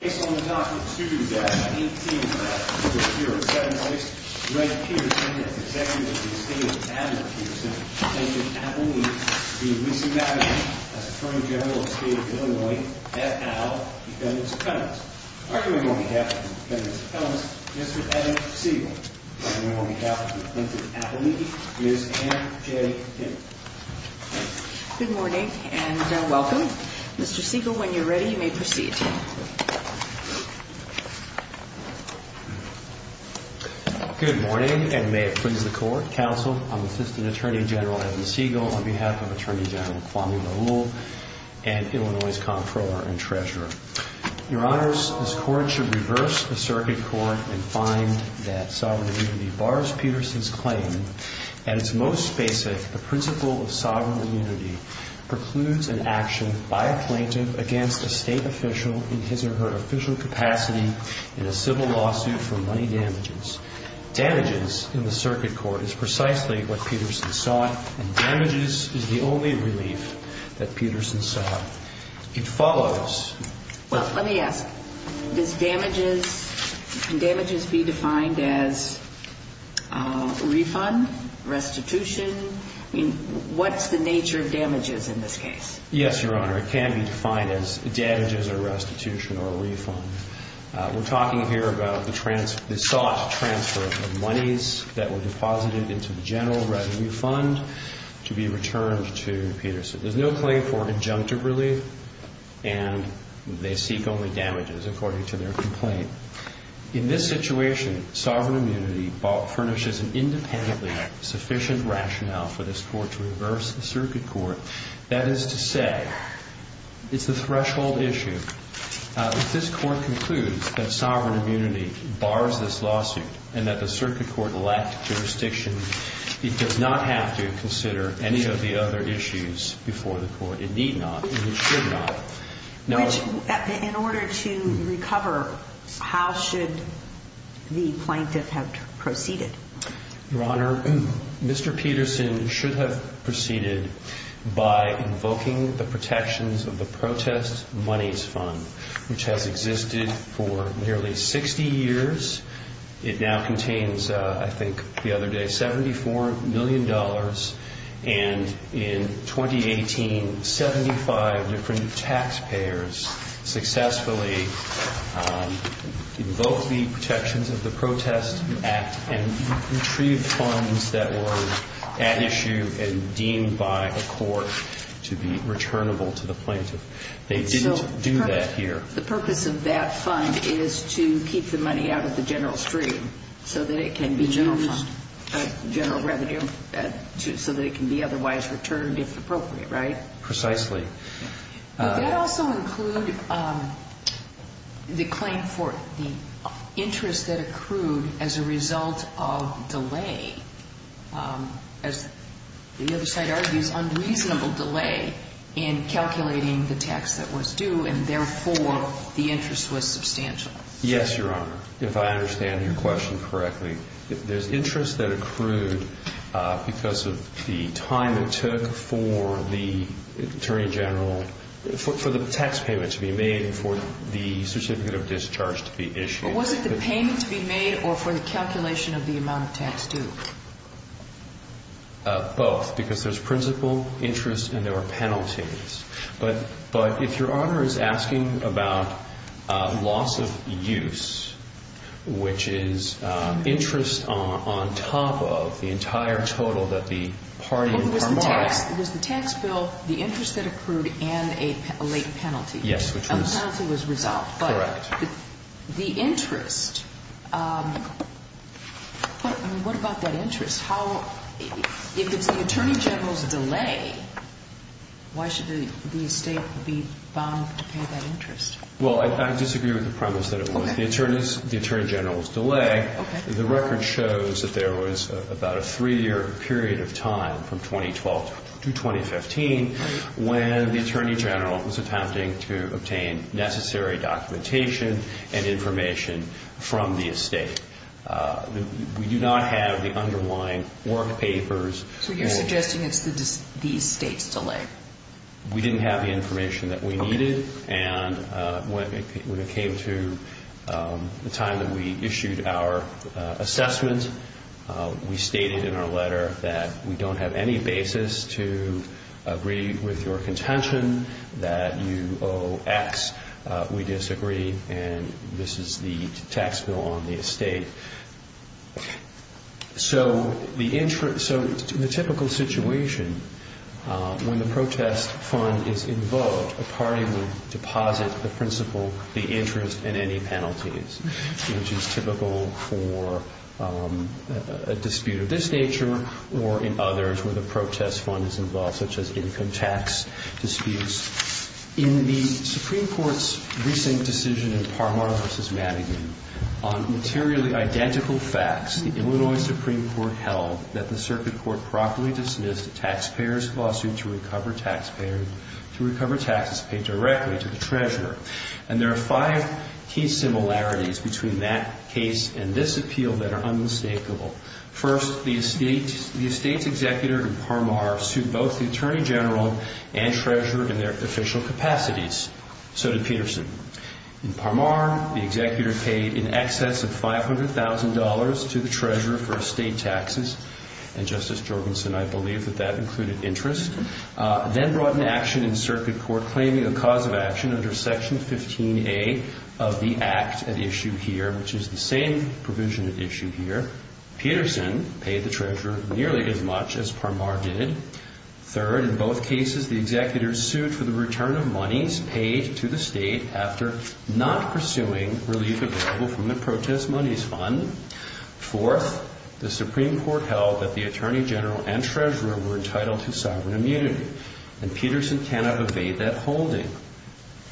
Good morning and welcome. Mr. Siegel, when you're ready, you may proceed. Good morning, and may it please the court, counsel, I'm Assistant Attorney General Edmund Siegel on behalf of Attorney General Kwame Nolul and Illinois' Comptroller and Treasurer. Your honors, this court should reverse the circuit court and find that sovereign immunity bars Peterson's claim. At its most basic, the principle of sovereign immunity precludes an action by a plaintiff against a State official in his or her official capacity in a civil lawsuit for money damages. Damages in the circuit court is precisely what Peterson sought, and damages is the only relief that Peterson sought. It follows Well, let me ask. Does damages, can damages be defined as refund, restitution? I mean, what's the nature of damages in this case? Yes, Your Honor. It can be defined as damages or restitution or a refund. We're talking here about the sought transfer of the monies that were deposited into the general revenue fund to be returned to Peterson. There's no claim for injunctive relief, and they seek only damages according to their complaint. In this situation, sovereign immunity furnishes an independently sufficient rationale for this court to reverse the circuit court. That is to say, it's the threshold issue. If this court concludes that sovereign immunity bars this lawsuit and that the circuit court lacked jurisdiction, it does not have to consider any of the other issues before the court. It need not, and it should not. In order to recover, how should the plaintiff have proceeded? Your Honor, Mr. Peterson should have proceeded by invoking the protections of the protest monies fund, which has existed for nearly 60 years. It now contains, I think, the other day, $74 million, and in 2018, 75 different taxpayers successfully invoked the protections of the protest act and retrieved funds that were at issue and deemed by a court to be returnable to the plaintiff. They didn't do that here. The purpose of that fund is to keep the money out of the general stream so that it can be used. The general fund. General revenue, so that it can be otherwise returned if appropriate, right? Precisely. Would that also include the claim for the interest that accrued as a result of delay, as the other side argues, unreasonable delay in calculating the tax that was due, and therefore the interest was substantial? Yes, Your Honor, if I understand your question correctly. There's interest that accrued because of the time it took for the attorney general, for the tax payment to be made and for the certificate of discharge to be issued. But was it the payment to be made or for the calculation of the amount of tax due? Both, because there's principal interest and there were penalties. But if Your Honor, we're talking about loss of use, which is interest on top of the entire total that the party and partner... It was the tax bill, the interest that accrued, and a late penalty. Yes, which was... And the penalty was resolved. Correct. But the interest, what about that interest? If it's the attorney general's delay, why should the estate be bound to pay that interest? Well, I disagree with the premise that it was the attorney general's delay. Okay. The record shows that there was about a three-year period of time, from 2012 to 2015, when the attorney general was attempting to obtain necessary documentation and information from the estate. We do not have the underlying work papers... So you're suggesting it's the estate's delay. We didn't have the information that we needed, and when it came to the time that we issued our assessment, we stated in our letter that we don't have any basis to agree with your contention that you owe X. We disagree, and this is the tax bill on the estate. So in the typical situation, when the protest fund is involved, a party will deposit the principal, the interest, and any penalties, which is typical for a dispute of this nature or in others where the protest fund is involved, such as income tax disputes. In the Supreme Court's recent decision in Parmar v. Madigan on materially identical facts, the Illinois Supreme Court held that the circuit court properly dismissed a taxpayer's lawsuit to recover taxes paid directly to the treasurer. And there are five key similarities between that case and this appeal that are unmistakable. First, the estate's executor in Parmar sued both the attorney general and treasurer in their official capacities. So did Peterson. In Parmar, the executor paid in excess of $500,000 to the treasurer for estate taxes, and Justice Jorgensen, I believe that that included interest, then brought an action in circuit court claiming a cause of action under Section 15A of the act at issue here, which is the same provision at issue here. Peterson paid the treasurer nearly as much as Parmar did. Third, in both cases, the executor sued for the return of monies paid to the estate after not pursuing relief available from the protest monies fund. Fourth, the Supreme Court held that the attorney general and treasurer were entitled to sovereign immunity, and Peterson cannot evade that holding.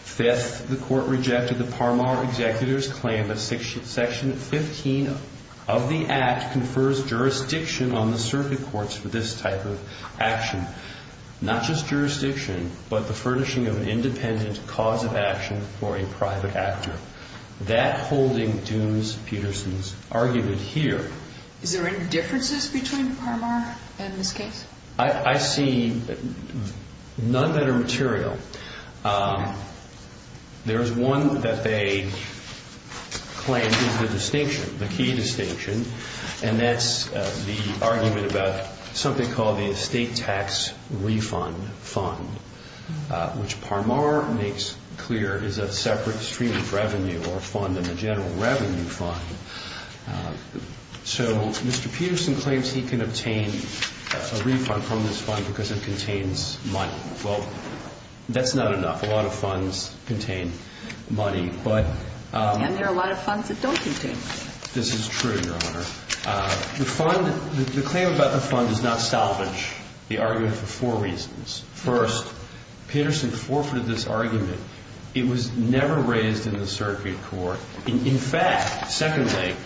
Fifth, the court rejected the Parmar executor's claim that Section 15 of the act confers jurisdiction on the circuit courts for this type of action, not just an independent cause of action for a private actor. That holding dooms Peterson's argument here. Is there any differences between Parmar and this case? I see none that are material. There's one that they claim is the distinction, the key distinction, and that's the argument about something called the estate tax refund fund, which Parmar makes clear is a separate stream of revenue or fund in the general revenue fund. So Mr. Peterson claims he can obtain a refund from this fund because it contains money. Well, that's not enough. A lot of funds contain money. And there are a lot of funds that don't contain money. This is true, Your Honor. The fund, the claim about the fund does not salvage the argument for four reasons. First, Peterson forfeited this argument. It was never raised in the circuit court. In fact, secondly,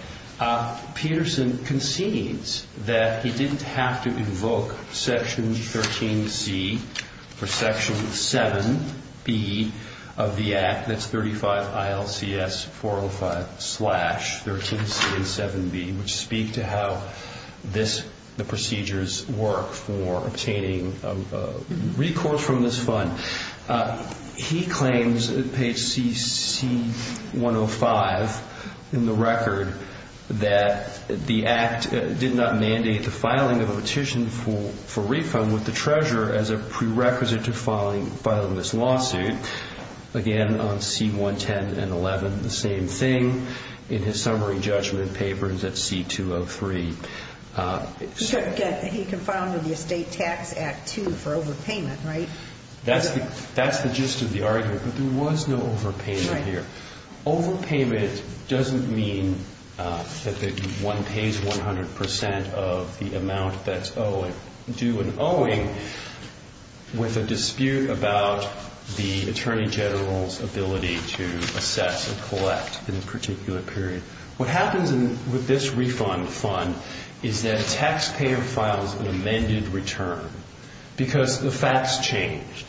Peterson concedes that he didn't have to invoke Section 13C for to speak to how this, the procedures work for obtaining recourse from this fund. He claims at page CC 105 in the record that the act did not mandate the filing of a petition for refund with the treasurer as a prerequisite to filing this lawsuit. Again, on C110 and 11, the same thing. In his summary judgment papers at C203. He confounded the Estate Tax Act II for overpayment, right? That's the gist of the argument, but there was no overpayment here. Overpayment doesn't mean that one pays 100% of the amount that's owed. We don't do an owing with a dispute about the Attorney General's ability to assess and collect in a particular period. What happens with this refund fund is that a taxpayer files an amended return because the facts changed.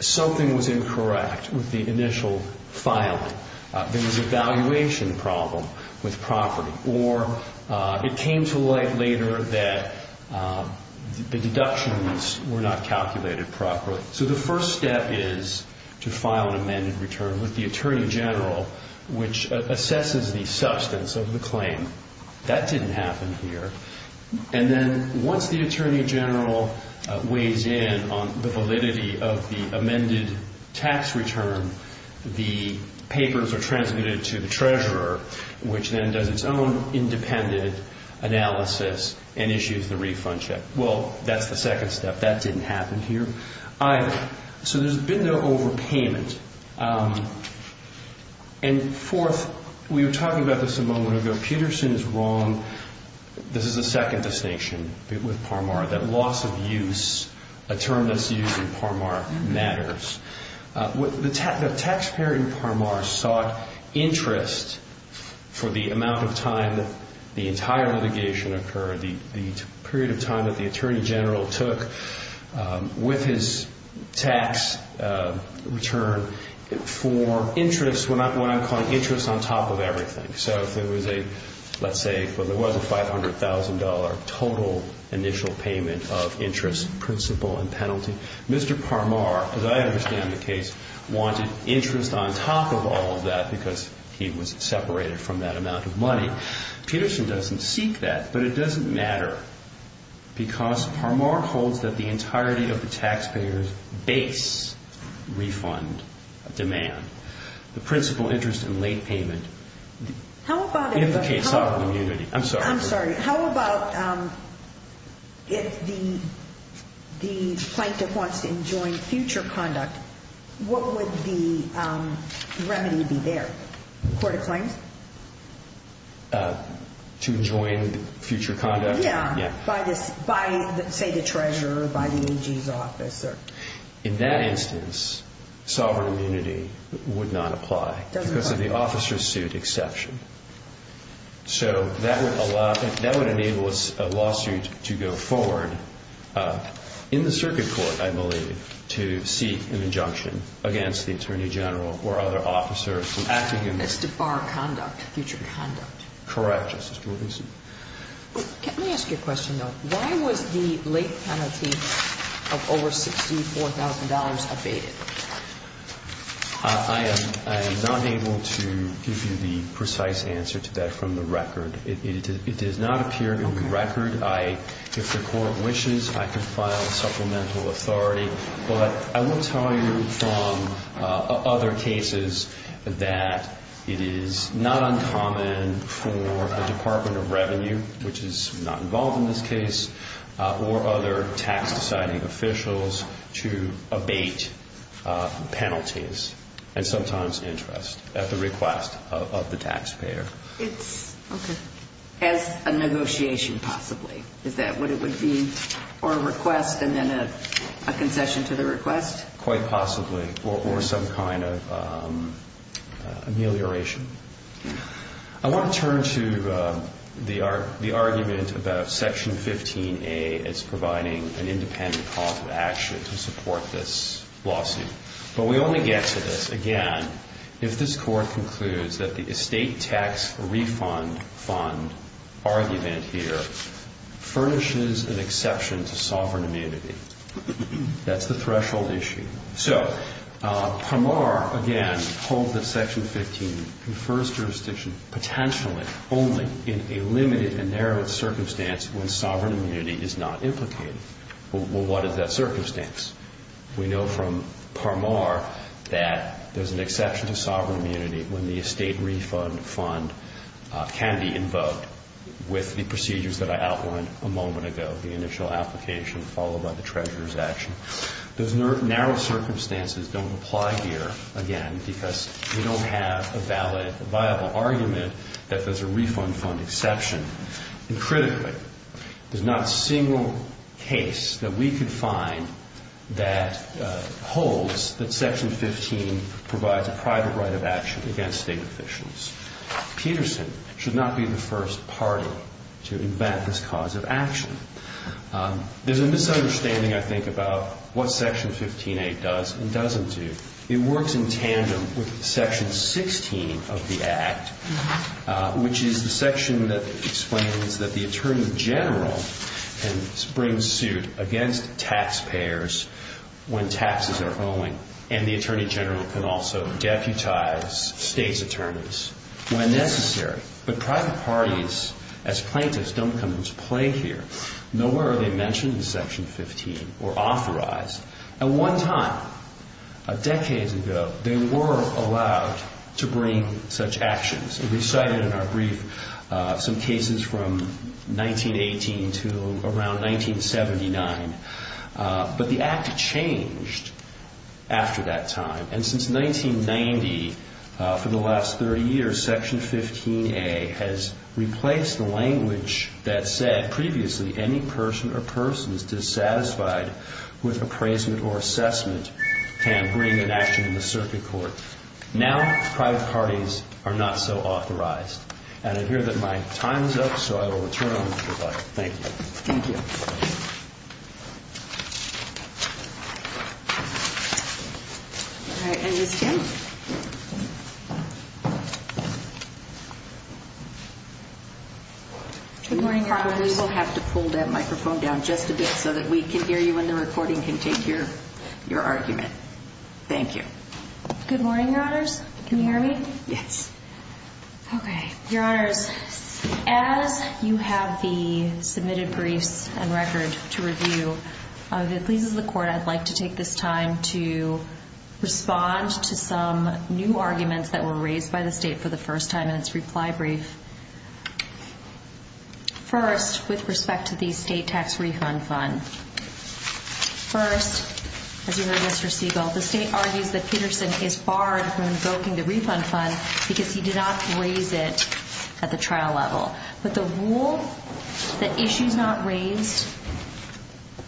Something was incorrect with the initial filing. There was a valuation problem with property. It came to light later that the deductions were not calculated properly. The first step is to file an amended return with the Attorney General, which assesses the substance of the claim. That didn't happen here. Once the Attorney General weighs in on the validity of the amended tax return, the papers are transmitted to the Treasurer, which then does its own independent analysis and issues the refund check. Well, that's the second step. That didn't happen here either. So there's been no overpayment. Fourth, we were talking about this a moment ago. Peterson is wrong. This is the second distinction with Parmar, that loss of use, a term that's used in Parmar, matters. The taxpayer in Parmar sought interest for the amount of time that the entire litigation occurred, the period of time that the Attorney General took with his tax return, for interest, what I'm calling interest on top of everything. So if there was a, let's say, if there was a $500,000 total initial payment of interest, principal and penalty, Mr. Parmar, as I understand the case, wanted interest on top of all of that because he was separated from that amount of money. Peterson doesn't seek that, but it doesn't matter because Parmar holds that the entirety of the taxpayer's base refund demand, the principal interest and late payment, in the case of immunity. I'm sorry. I'm sorry. How about if the plaintiff wants to enjoin future conduct, what would the remedy be there? Court of claims? To enjoin future conduct? Yeah. By, say, the treasurer, by the AG's officer. In that instance, sovereign immunity would not apply because of the officer's suit exception. So that would allow, that would enable a lawsuit to go forward, in the circuit court, I believe, to seek an injunction against the attorney general or other officers. It's to bar conduct, future conduct. Correct, Justice Gordon. Let me ask you a question, though. Why was the late penalty of over $64,000 abated? I am not able to give you the precise answer to that from the record. It does not appear in the record. If the court wishes, I can file supplemental authority. But I will tell you from other cases that it is not uncommon for a Department of Revenue, which is not involved in this case, or other tax-deciding officials to abate penalties and sometimes interest at the request of the taxpayer. Okay. As a negotiation, possibly. Is that what it would be? Or a request and then a concession to the request? Quite possibly. Or some kind of amelioration. I want to turn to the argument about Section 15A as providing an independent cause of action to support this lawsuit. But we only get to this, again, if this court concludes that the estate tax refund fund argument here furnishes an exception to sovereign amenity. That's the threshold issue. So, Parmar, again, holds that Section 15 confers jurisdiction, potentially only in a limited and narrowed circumstance when sovereign amenity is not implicated. Well, what is that circumstance? We know from Parmar that there's an exception to sovereign amenity when the estate refund fund can be invoked with the procedures that I outlined a moment ago, the initial application followed by the treasurer's action. Those narrow circumstances don't apply here, again, because we don't have a valid, viable argument that there's a refund fund exception. And critically, there's not a single case that we could find that holds that Section 15 provides a private right of action against state officials. Peterson should not be the first party to invent this cause of action. There's a misunderstanding, I think, about what Section 15a does and doesn't do. It works in tandem with Section 16 of the Act, which is the section that explains that the attorney general can bring suit against taxpayers when taxes are owing, and the attorney general can also deputize state's attorneys when necessary. But private parties, as plaintiffs, don't come into play here. Nowhere are they mentioned in Section 15 or authorized. At one time, decades ago, they were allowed to bring such actions. We cited in our brief some cases from 1918 to around 1979. But the Act changed after that time. And since 1990, for the last 30 years, Section 15a has replaced the language that said, previously, any person or persons dissatisfied with appraisement or assessment can bring an action in the circuit court. Now, private parties are not so authorized. And I hear that my time is up, so I will return on the floor. Thank you. Thank you. All right, and Ms. Kim? Good morning, Your Honors. We will have to pull that microphone down just a bit so that we can hear you when the recording can take your argument. Thank you. Good morning, Your Honors. Can you hear me? Yes. Okay. Your Honors, as you have the submitted briefs and record to review, if it pleases the Court, I'd like to take this time to respond to some new arguments that were raised by the state for the first time in its reply brief. First, with respect to the state tax refund fund. First, as you heard Mr. Siegel, the state argues that Peterson is barred from invoking the refund fund because he did not raise it at the trial level. But the rule that issues not raised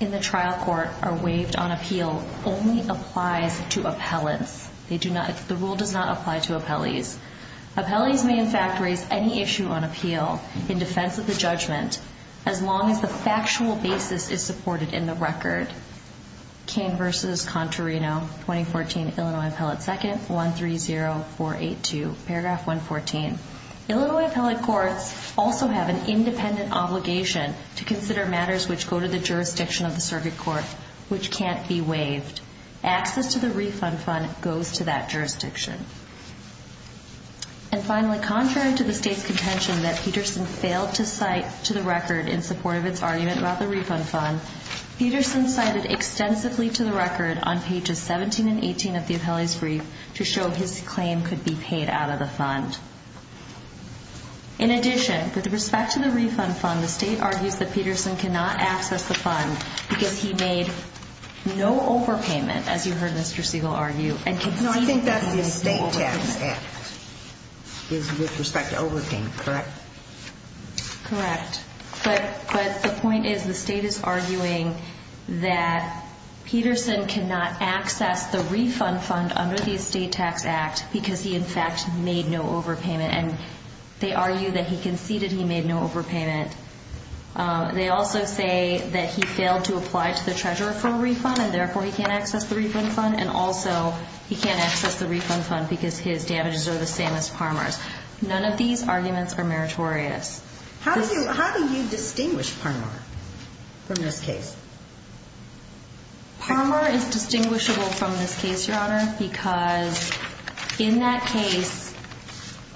in the trial court are waived on appeal only applies to appellants. The rule does not apply to appellees. Appellees may, in fact, raise any issue on appeal in defense of the judgment Kane v. Contarino, 2014, Illinois Appellate 2nd, 130482, paragraph 114. Illinois appellate courts also have an independent obligation to consider matters which go to the jurisdiction of the circuit court which can't be waived. Access to the refund fund goes to that jurisdiction. And finally, contrary to the state's contention that Peterson failed to cite to the record in support of its argument about the refund fund, Peterson cited extensively to the record on pages 17 and 18 of the appellee's brief to show his claim could be paid out of the fund. In addition, with respect to the refund fund, the state argues that Peterson cannot access the fund because he made no overpayment, as you heard Mr. Siegel argue, and conceded no overpayment. No, I think that's the state tax act is with respect to overpayment, correct? Correct. But the point is the state is arguing that Peterson cannot access the refund fund under the estate tax act because he, in fact, made no overpayment, and they argue that he conceded he made no overpayment. They also say that he failed to apply to the treasurer for a refund and therefore he can't access the refund fund, and also he can't access the refund fund because his damages are the same as Parmer's. None of these arguments are meritorious. How do you distinguish Parmer from this case? Parmer is distinguishable from this case, Your Honor, because in that case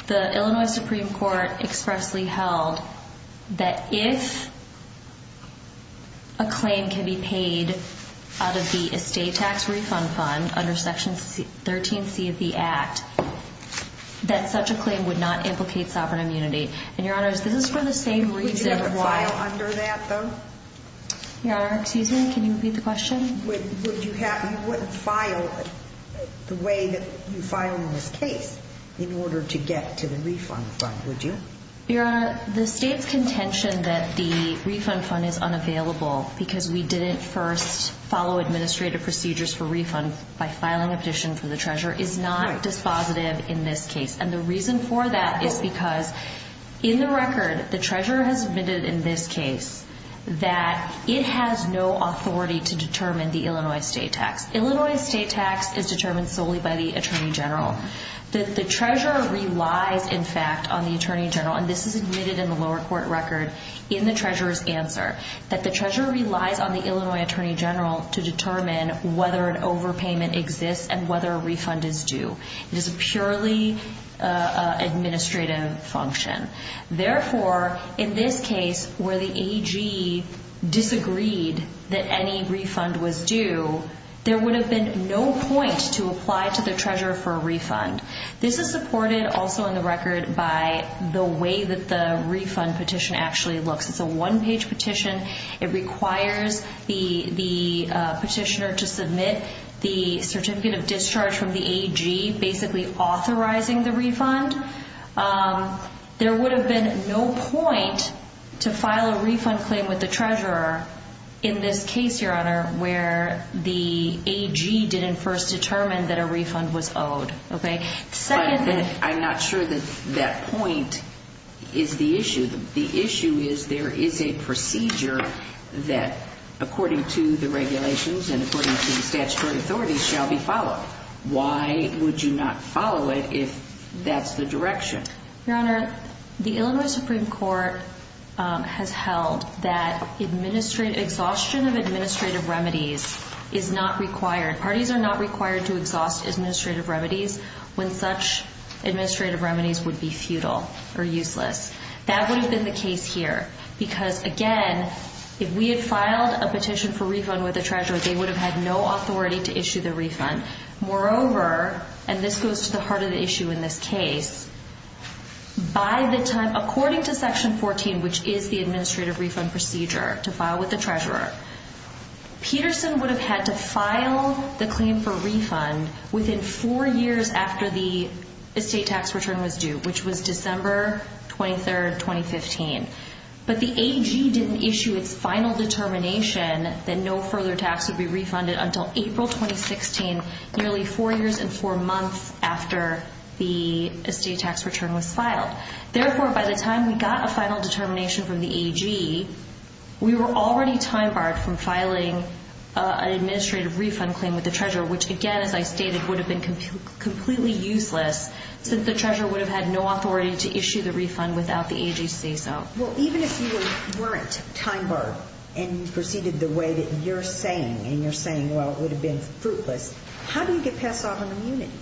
the Illinois Supreme Court expressly held that if a claim can be paid out of the estate tax refund fund under Section 13C of the act, that such a claim would not implicate sovereign immunity. And, Your Honor, this is for the same reason. Would you ever file under that, though? Your Honor, excuse me, can you repeat the question? You wouldn't file the way that you filed in this case in order to get to the refund fund, would you? Your Honor, the state's contention that the refund fund is unavailable because we didn't first follow administrative procedures for refund by filing a petition for the treasurer is not dispositive in this case. And the reason for that is because in the record the treasurer has admitted in this case that it has no authority to determine the Illinois estate tax. Illinois estate tax is determined solely by the Attorney General. The treasurer relies, in fact, on the Attorney General, and this is admitted in the lower court record in the treasurer's answer, that the treasurer relies on the Illinois Attorney General to determine whether an overpayment exists and whether a refund is due. It is a purely administrative function. Therefore, in this case where the AG disagreed that any refund was due, there would have been no point to apply to the treasurer for a refund. This is supported also in the record by the way that the refund petition actually looks. It's a one-page petition. It requires the petitioner to submit the certificate of discharge from the AG, basically authorizing the refund. There would have been no point to file a refund claim with the treasurer in this case, Your Honor, where the AG didn't first determine that a refund was owed. I'm not sure that that point is the issue. The issue is there is a procedure that, according to the regulations and according to the statutory authorities, shall be followed. Why would you not follow it if that's the direction? Your Honor, the Illinois Supreme Court has held that exhaustion of administrative remedies is not required. Parties are not required to exhaust administrative remedies when such administrative remedies would be futile or useless. That would have been the case here because, again, if we had filed a petition for refund with the treasurer, they would have had no authority to issue the refund. Moreover, and this goes to the heart of the issue in this case, by the time, according to Section 14, which is the administrative refund procedure to file with the treasurer, Peterson would have had to file the claim for refund within four years after the estate tax return was due, which was December 23, 2015. But the AG didn't issue its final determination that no further tax would be refunded until April 2016, nearly four years and four months after the estate tax return was filed. Therefore, by the time we got a final determination from the AG, we were already time-barred from filing an administrative refund claim with the treasurer, which, again, as I stated, would have been completely useless since the treasurer would have had no authority to issue the refund without the AG's say-so. Well, even if you weren't time-barred and you proceeded the way that you're saying, and you're saying, well, it would have been fruitless, how do you get past sovereign immunity?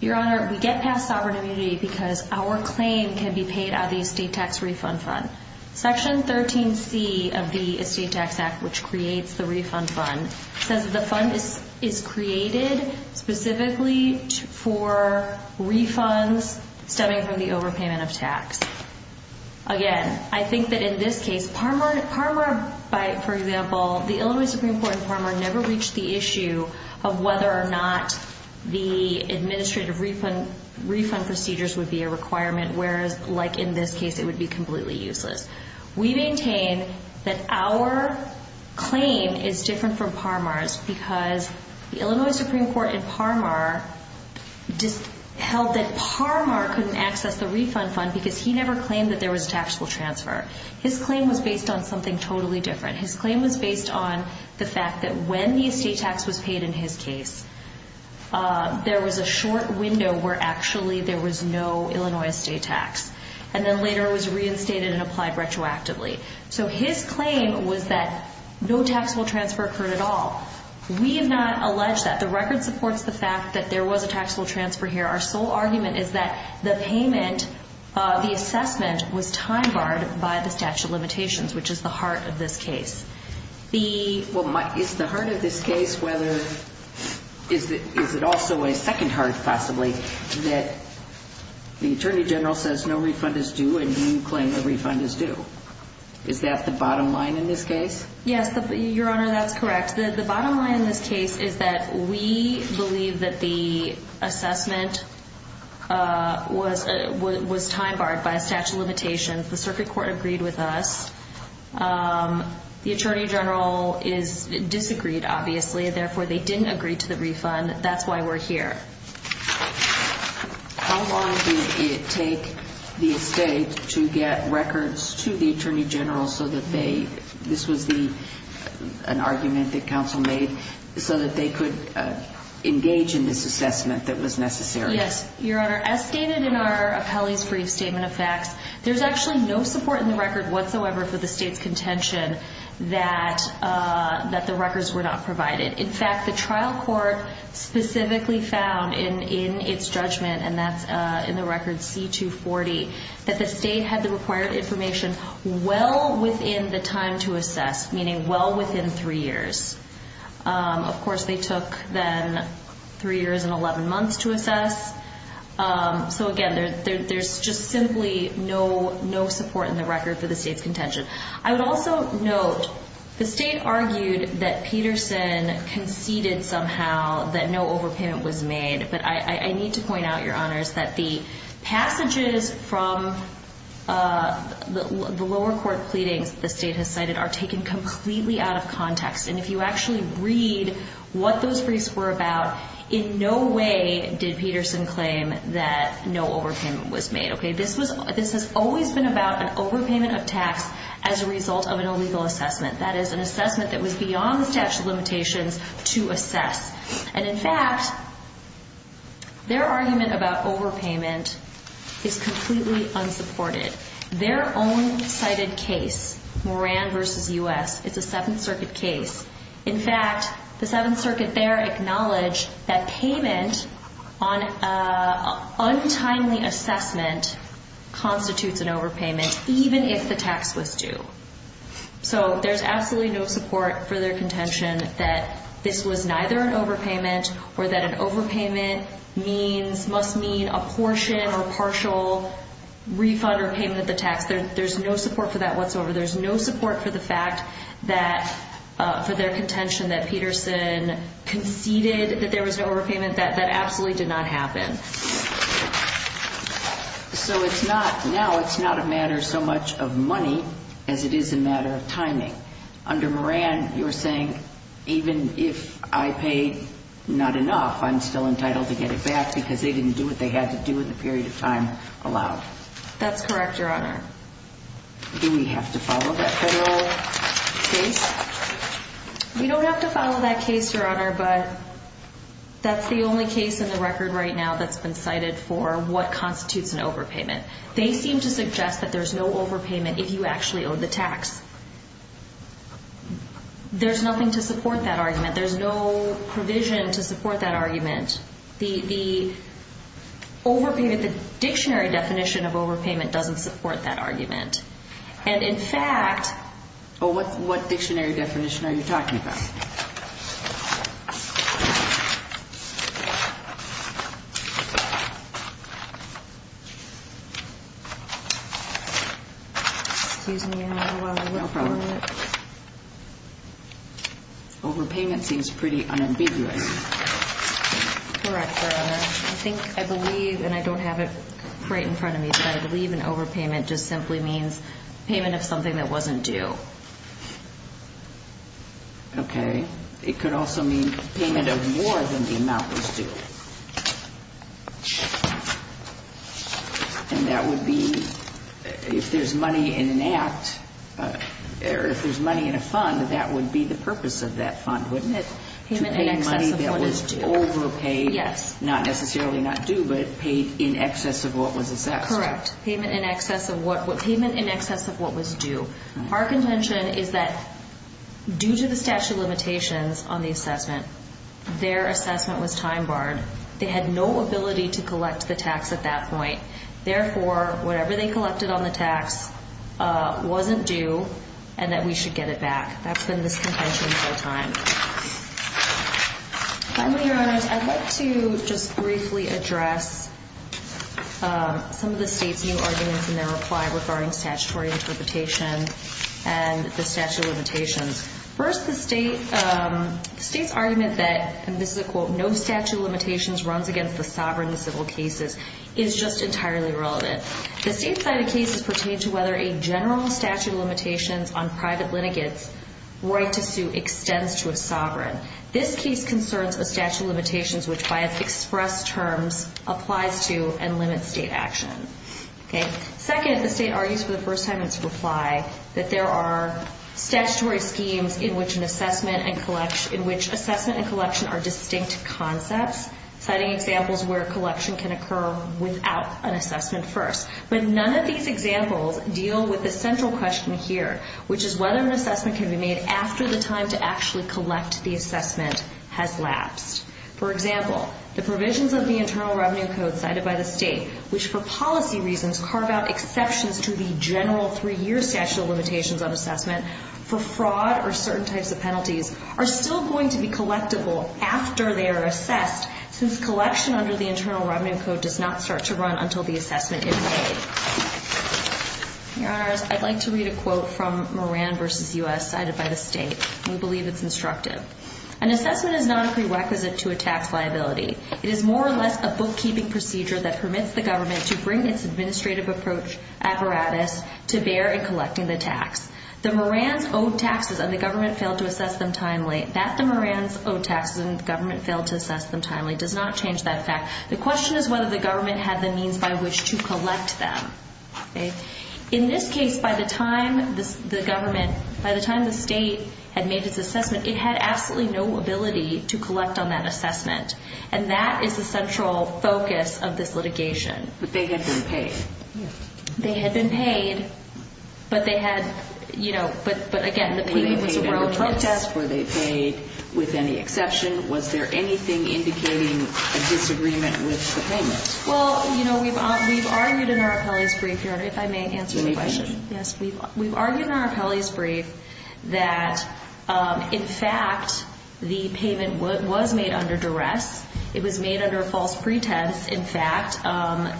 Your Honor, we get past sovereign immunity because our claim can be paid out of the estate tax refund fund. Section 13C of the Estate Tax Act, which creates the refund fund, says the fund is created specifically for refunds stemming from the overpayment of tax. Again, I think that in this case, Parmer, for example, the Illinois Supreme Court in Parmer never reached the issue of whether or not the administrative refund procedures would be a requirement, whereas, like in this case, it would be completely useless. We maintain that our claim is different from Parmer's because the Illinois Supreme Court in Parmer held that Parmer couldn't access the refund fund because he never claimed that there was a taxable transfer. His claim was based on something totally different. His claim was based on the fact that when the estate tax was paid in his case, there was a short window where actually there was no Illinois estate tax, and then later it was reinstated and applied retroactively. So his claim was that no taxable transfer occurred at all. We have not alleged that. The record supports the fact that there was a taxable transfer here. Our sole argument is that the assessment was time-barred by the statute of limitations, which is the heart of this case. Is the heart of this case also a second heart, possibly, that the Attorney General says no refund is due and you claim a refund is due? Is that the bottom line in this case? Yes, Your Honor, that's correct. The bottom line in this case is that we believe that the assessment was time-barred by a statute of limitations. The circuit court agreed with us. The Attorney General disagreed, obviously. Therefore, they didn't agree to the refund. That's why we're here. How long did it take the estate to get records to the Attorney General so that they— this was an argument that counsel made— so that they could engage in this assessment that was necessary? Yes, Your Honor, as stated in our appellee's brief statement of facts, there's actually no support in the record whatsoever for the state's contention that the records were not provided. In fact, the trial court specifically found in its judgment, and that's in the record C-240, that the state had the required information well within the time to assess, meaning well within three years. Of course, they took then three years and 11 months to assess. So again, there's just simply no support in the record for the state's contention. I would also note, the state argued that Peterson conceded somehow that no overpayment was made. But I need to point out, Your Honors, that the passages from the lower court pleadings the state has cited are taken completely out of context. And if you actually read what those briefs were about, in no way did Peterson claim that no overpayment was made, okay? This has always been about an overpayment of tax as a result of an illegal assessment. That is, an assessment that was beyond the statute of limitations to assess. And in fact, their argument about overpayment is completely unsupported. Their own cited case, Moran v. U.S., it's a Seventh Circuit case. In fact, the Seventh Circuit there acknowledged that payment on untimely assessment constitutes an overpayment, even if the tax was due. So there's absolutely no support for their contention that this was neither an overpayment or that an overpayment must mean a portion or partial refund or payment of the tax. There's no support for that whatsoever. There's no support for the fact that for their contention that Peterson conceded that there was an overpayment. That absolutely did not happen. So it's not, now it's not a matter so much of money as it is a matter of timing. Under Moran, you're saying even if I pay not enough, I'm still entitled to get it back because they didn't do what they had to do in the period of time allowed. That's correct, Your Honor. Do we have to follow that federal case? We don't have to follow that case, Your Honor, but that's the only case in the record right now that's been cited for what constitutes an overpayment. They seem to suggest that there's no overpayment if you actually owe the tax. There's nothing to support that argument. There's no provision to support that argument. The dictionary definition of overpayment doesn't support that argument. And in fact, what dictionary definition are you talking about? Excuse me, Your Honor, while I look for it. Overpayment seems pretty unambiguous. Correct, Your Honor. I think, I believe, and I don't have it right in front of me, but I believe an overpayment just simply means payment of something that wasn't due. Okay. It could also mean payment of more than the amount was due. And that would be, if there's money in an act, or if there's money in a fund, that would be the purpose of that fund, wouldn't it? To pay money that was overpaid. Yes. Not necessarily not due, but paid in excess of what was assessed. Correct. Payment in excess of what was due. Our contention is that due to the statute of limitations on the assessment, their assessment was time barred. They had no ability to collect the tax at that point. Therefore, whatever they collected on the tax wasn't due, and that we should get it back. That's been this contention the whole time. Finally, Your Honors, I'd like to just briefly address some of the State's new arguments in their reply regarding statutory interpretation and the statute of limitations. First, the State's argument that, and this is a quote, no statute of limitations runs against the sovereign in civil cases is just entirely irrelevant. The same side of the case pertains to whether a general statute of limitations on private litigants' right to sue extends to a sovereign. This case concerns a statute of limitations which, by its expressed terms, applies to and limits State action. Second, the State argues for the first time in its reply that there are statutory schemes in which assessment and collection are distinct concepts, citing examples where collection can occur without an assessment first. But none of these examples deal with the central question here, which is whether an assessment can be made after the time to actually collect the assessment has lapsed. For example, the provisions of the Internal Revenue Code cited by the State, which for policy reasons carve out exceptions to the general three-year statute of limitations on assessment for fraud or certain types of penalties, are still going to be collectible after they are assessed since collection under the Internal Revenue Code does not start to run until the assessment is made. Your Honors, I'd like to read a quote from Moran v. U.S. cited by the State. We believe it's instructive. An assessment is not a prerequisite to a tax liability. It is more or less a bookkeeping procedure that permits the government to bring its administrative approach apparatus to bear in collecting the tax. The Morans owed taxes and the government failed to assess them timely. That the Morans owed taxes and the government failed to assess them timely does not change that fact. The question is whether the government had the means by which to collect them. In this case, by the time the government, by the time the State had made its assessment, it had absolutely no ability to collect on that assessment, and that is the central focus of this litigation. But they had been paid. They had been paid, but they had, you know, but again, the payment was erroneous. Were they paid with any exception? Was there anything indicating a disagreement with the payment? Well, you know, we've argued in our appellee's brief, Your Honor, if I may answer the question. Yes, we've argued in our appellee's brief that, in fact, the payment was made under duress. It was made under false pretense. In fact,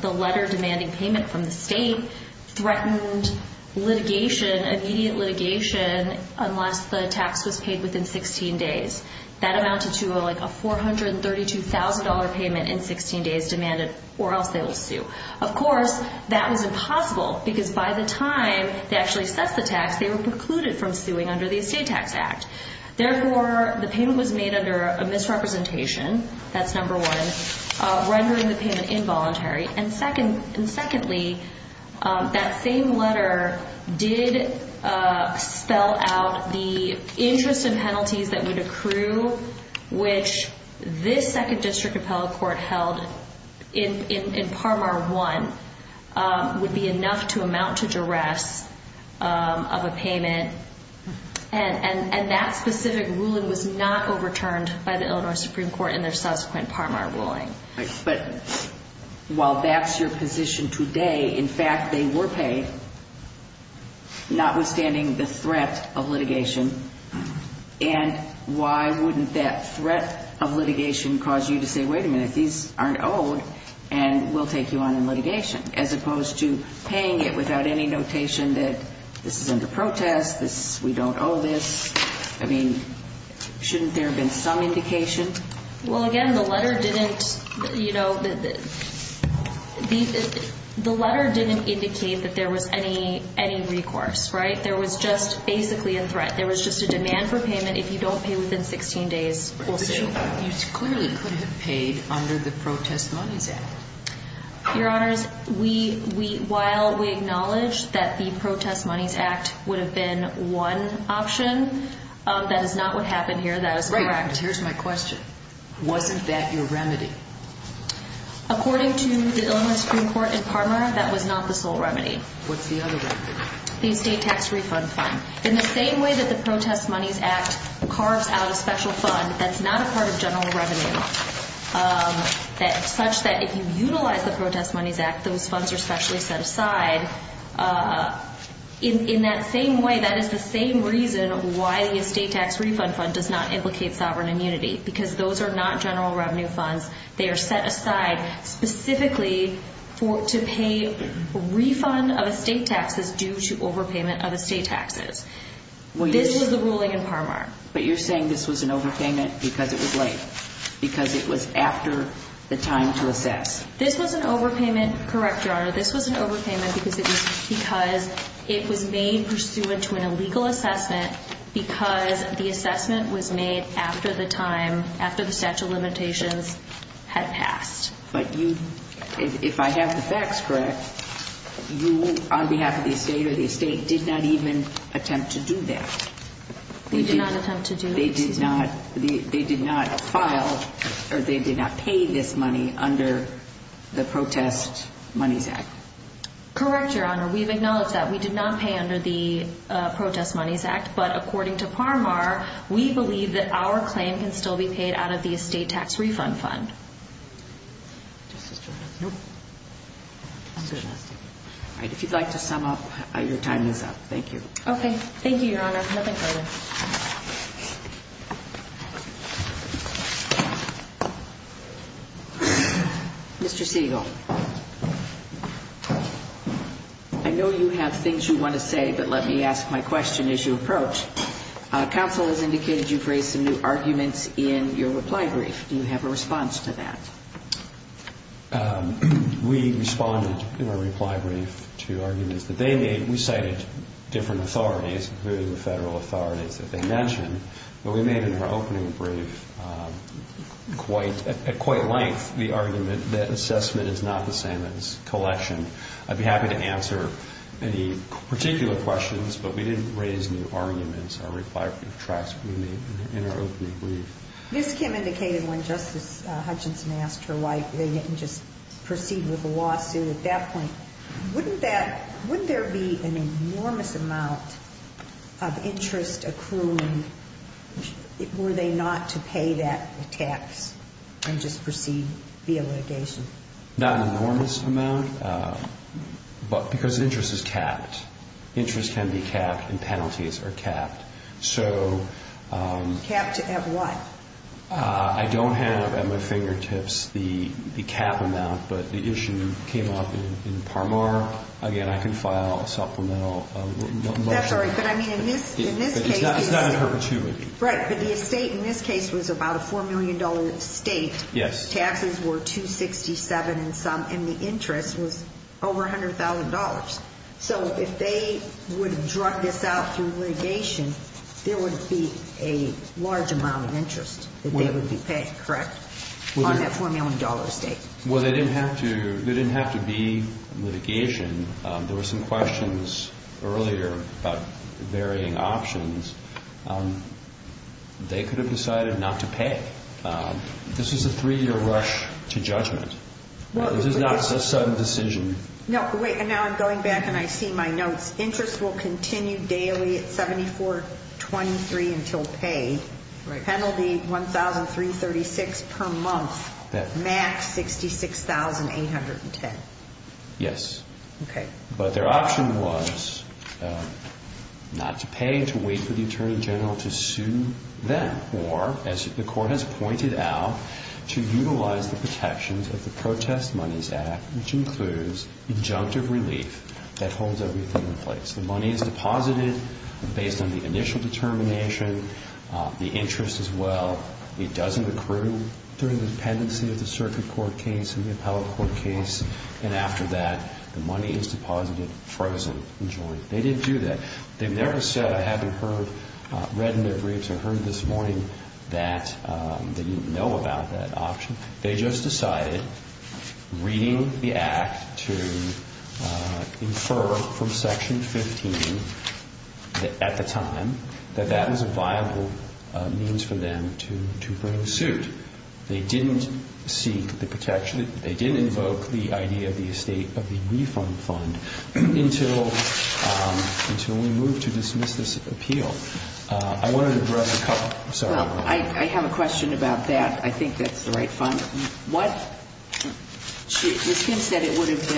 the letter demanding payment from the State threatened litigation, immediate litigation, unless the tax was paid within 16 days. That amounted to like a $432,000 payment in 16 days demanded, or else they will sue. Of course, that was impossible because by the time they actually assessed the tax, they were precluded from suing under the Estate Tax Act. Therefore, the payment was made under a misrepresentation. That's number one. Rendering the payment involuntary. And secondly, that same letter did spell out the interest and penalties that would accrue, which this Second District Appellate Court held in Parmar I would be enough to amount to duress of a payment. And that specific ruling was not overturned by the Illinois Supreme Court in their subsequent Parmar ruling. But while that's your position today, in fact, they were paid, notwithstanding the threat of litigation. And why wouldn't that threat of litigation cause you to say, wait a minute, these aren't owed and we'll take you on in litigation, as opposed to paying it without any notation that this is under protest, we don't owe this. I mean, shouldn't there have been some indication? Well, again, the letter didn't indicate that there was any recourse, right? There was just basically a threat. There was just a demand for payment. If you don't pay within 16 days, we'll sue you. But you clearly could have paid under the Protest Monies Act. Your Honors, while we acknowledge that the Protest Monies Act would have been one option, that is not what happened here. That is correct. Here's my question. Wasn't that your remedy? According to the Illinois Supreme Court in Parmar, that was not the sole remedy. What's the other remedy? The estate tax refund fund. In the same way that the Protest Monies Act carves out a special fund that's not a part of general revenue, such that if you utilize the Protest Monies Act, those funds are specially set aside. In that same way, that is the same reason why the estate tax refund fund does not implicate sovereign immunity, because those are not general revenue funds. They are set aside specifically to pay a refund of estate taxes due to overpayment of estate taxes. This was the ruling in Parmar. But you're saying this was an overpayment because it was late, because it was after the time to assess. This was an overpayment, correct, Your Honor. This was an overpayment because it was made pursuant to an illegal assessment, because the assessment was made after the statute of limitations had passed. But if I have the facts correct, you, on behalf of the estate or the estate, did not even attempt to do that. We did not attempt to do this. They did not file or they did not pay this money under the Protest Monies Act. Correct, Your Honor. We have acknowledged that. We did not pay under the Protest Monies Act. But according to Parmar, we believe that our claim can still be paid out of the estate tax refund fund. If you'd like to sum up, your time is up. Thank you. Okay. Thank you, Your Honor. Nothing further. Mr. Siegel, I know you have things you want to say, but let me ask my question as you approach. Counsel has indicated you've raised some new arguments in your reply brief. Do you have a response to that? We responded in our reply brief to arguments that they made. We cited different authorities, including the federal authorities that they mentioned. But we made in our opening brief at quite length the argument that assessment is not the same as collection. I'd be happy to answer any particular questions, but we didn't raise new arguments or reply brief tracks in our opening brief. Ms. Kim indicated when Justice Hutchinson asked her why they didn't just proceed with a lawsuit at that point, wouldn't there be an enormous amount of interest accruing were they not to pay that tax and just proceed via litigation? Not an enormous amount, but because interest is capped. Interest can be capped, and penalties are capped. Capped at what? I don't have at my fingertips the cap amount, but the issue came up in Parmar. Again, I can file a supplemental motion. I'm sorry, but I mean in this case. It's not an opportunity. Right, but the estate in this case was about a $4 million estate. Yes. Taxes were $267 and some, and the interest was over $100,000. So if they would have drug this out through litigation, there would be a large amount of interest that they would be paying. Correct? On that $4 million estate. Well, there didn't have to be litigation. There were some questions earlier about varying options. They could have decided not to pay. This is a three-year rush to judgment. This is not a sudden decision. Now I'm going back and I see my notes. Interest will continue daily at $74.23 until paid. Penalty $1,336 per month, max $66,810. Yes. Okay. But their option was not to pay, to wait for the Attorney General to sue them, as the Court has pointed out, to utilize the protections of the Protest Monies Act, which includes injunctive relief that holds everything in place. The money is deposited based on the initial determination, the interest as well. It doesn't accrue during the dependency of the circuit court case and the appellate court case, and after that, the money is deposited frozen in joint. They didn't do that. They never said, having read in their briefs or heard this morning that they didn't know about that option. They just decided, reading the Act to infer from Section 15 at the time, that that was a viable means for them to bring suit. They didn't seek the protection. They didn't invoke the idea of the estate of the refund fund until we moved to dismiss this appeal. I wanted to address a couple. I'm sorry. Well, I have a question about that. I think that's the right fund. Ms. Kim said it would have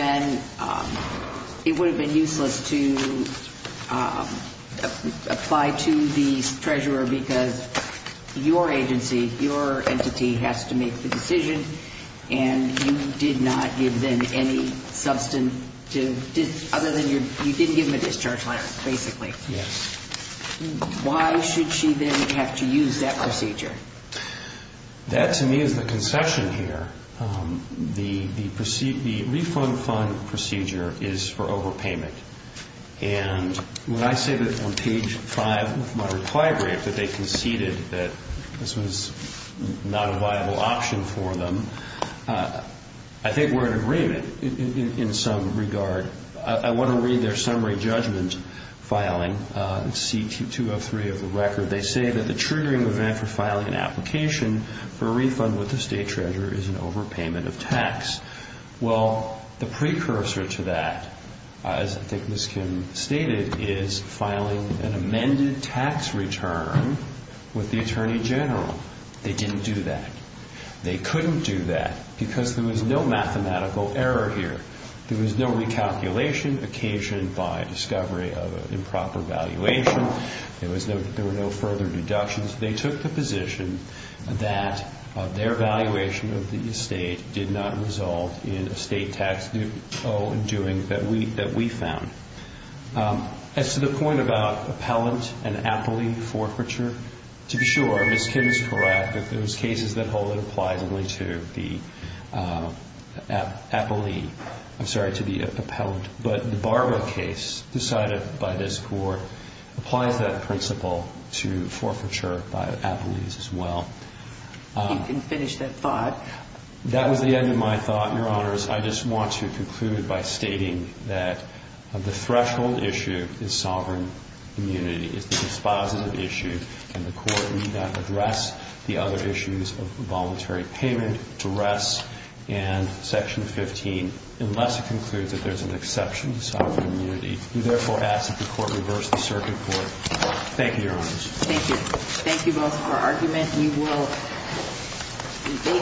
been useless to apply to the treasurer because your agency, your entity, has to make the decision, and you did not give them any substantive, other than you didn't give them a discharge letter, basically. Yes. Why should she then have to use that procedure? That, to me, is the conception here. The refund fund procedure is for overpayment, and when I say that on page 5 of my reply brief that they conceded that this was not a viable option for them, I think we're in agreement in some regard. I want to read their summary judgment filing, C-203 of the record. They say that the triggering event for filing an application for a refund with the estate treasurer is an overpayment of tax. Well, the precursor to that, as I think Ms. Kim stated, is filing an amended tax return with the attorney general. They didn't do that. They couldn't do that because there was no mathematical error here. There was no recalculation occasioned by discovery of improper valuation. There were no further deductions. They took the position that their valuation of the estate did not resolve in estate tax due in doing that we found. As to the point about appellant and appellee forfeiture, to be sure, Ms. Kim is correct that those cases that hold it applies only to the appellee. I'm sorry, to the appellant. But the Barbara case decided by this Court applies that principle to forfeiture by appellees as well. You can finish that thought. That was the end of my thought, Your Honors. I just want to conclude by stating that the threshold issue is sovereign immunity. It's the dispositive issue, and the Court need not address the other issues of voluntary payment, and Section 15, unless it concludes that there's an exception to sovereign immunity. We therefore ask that the Court reverse the circuit court. Thank you, Your Honors. Thank you. Thank you both for your argument. We will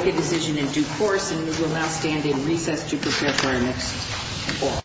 make a decision in due course, and we will now stand in recess to prepare for our next court.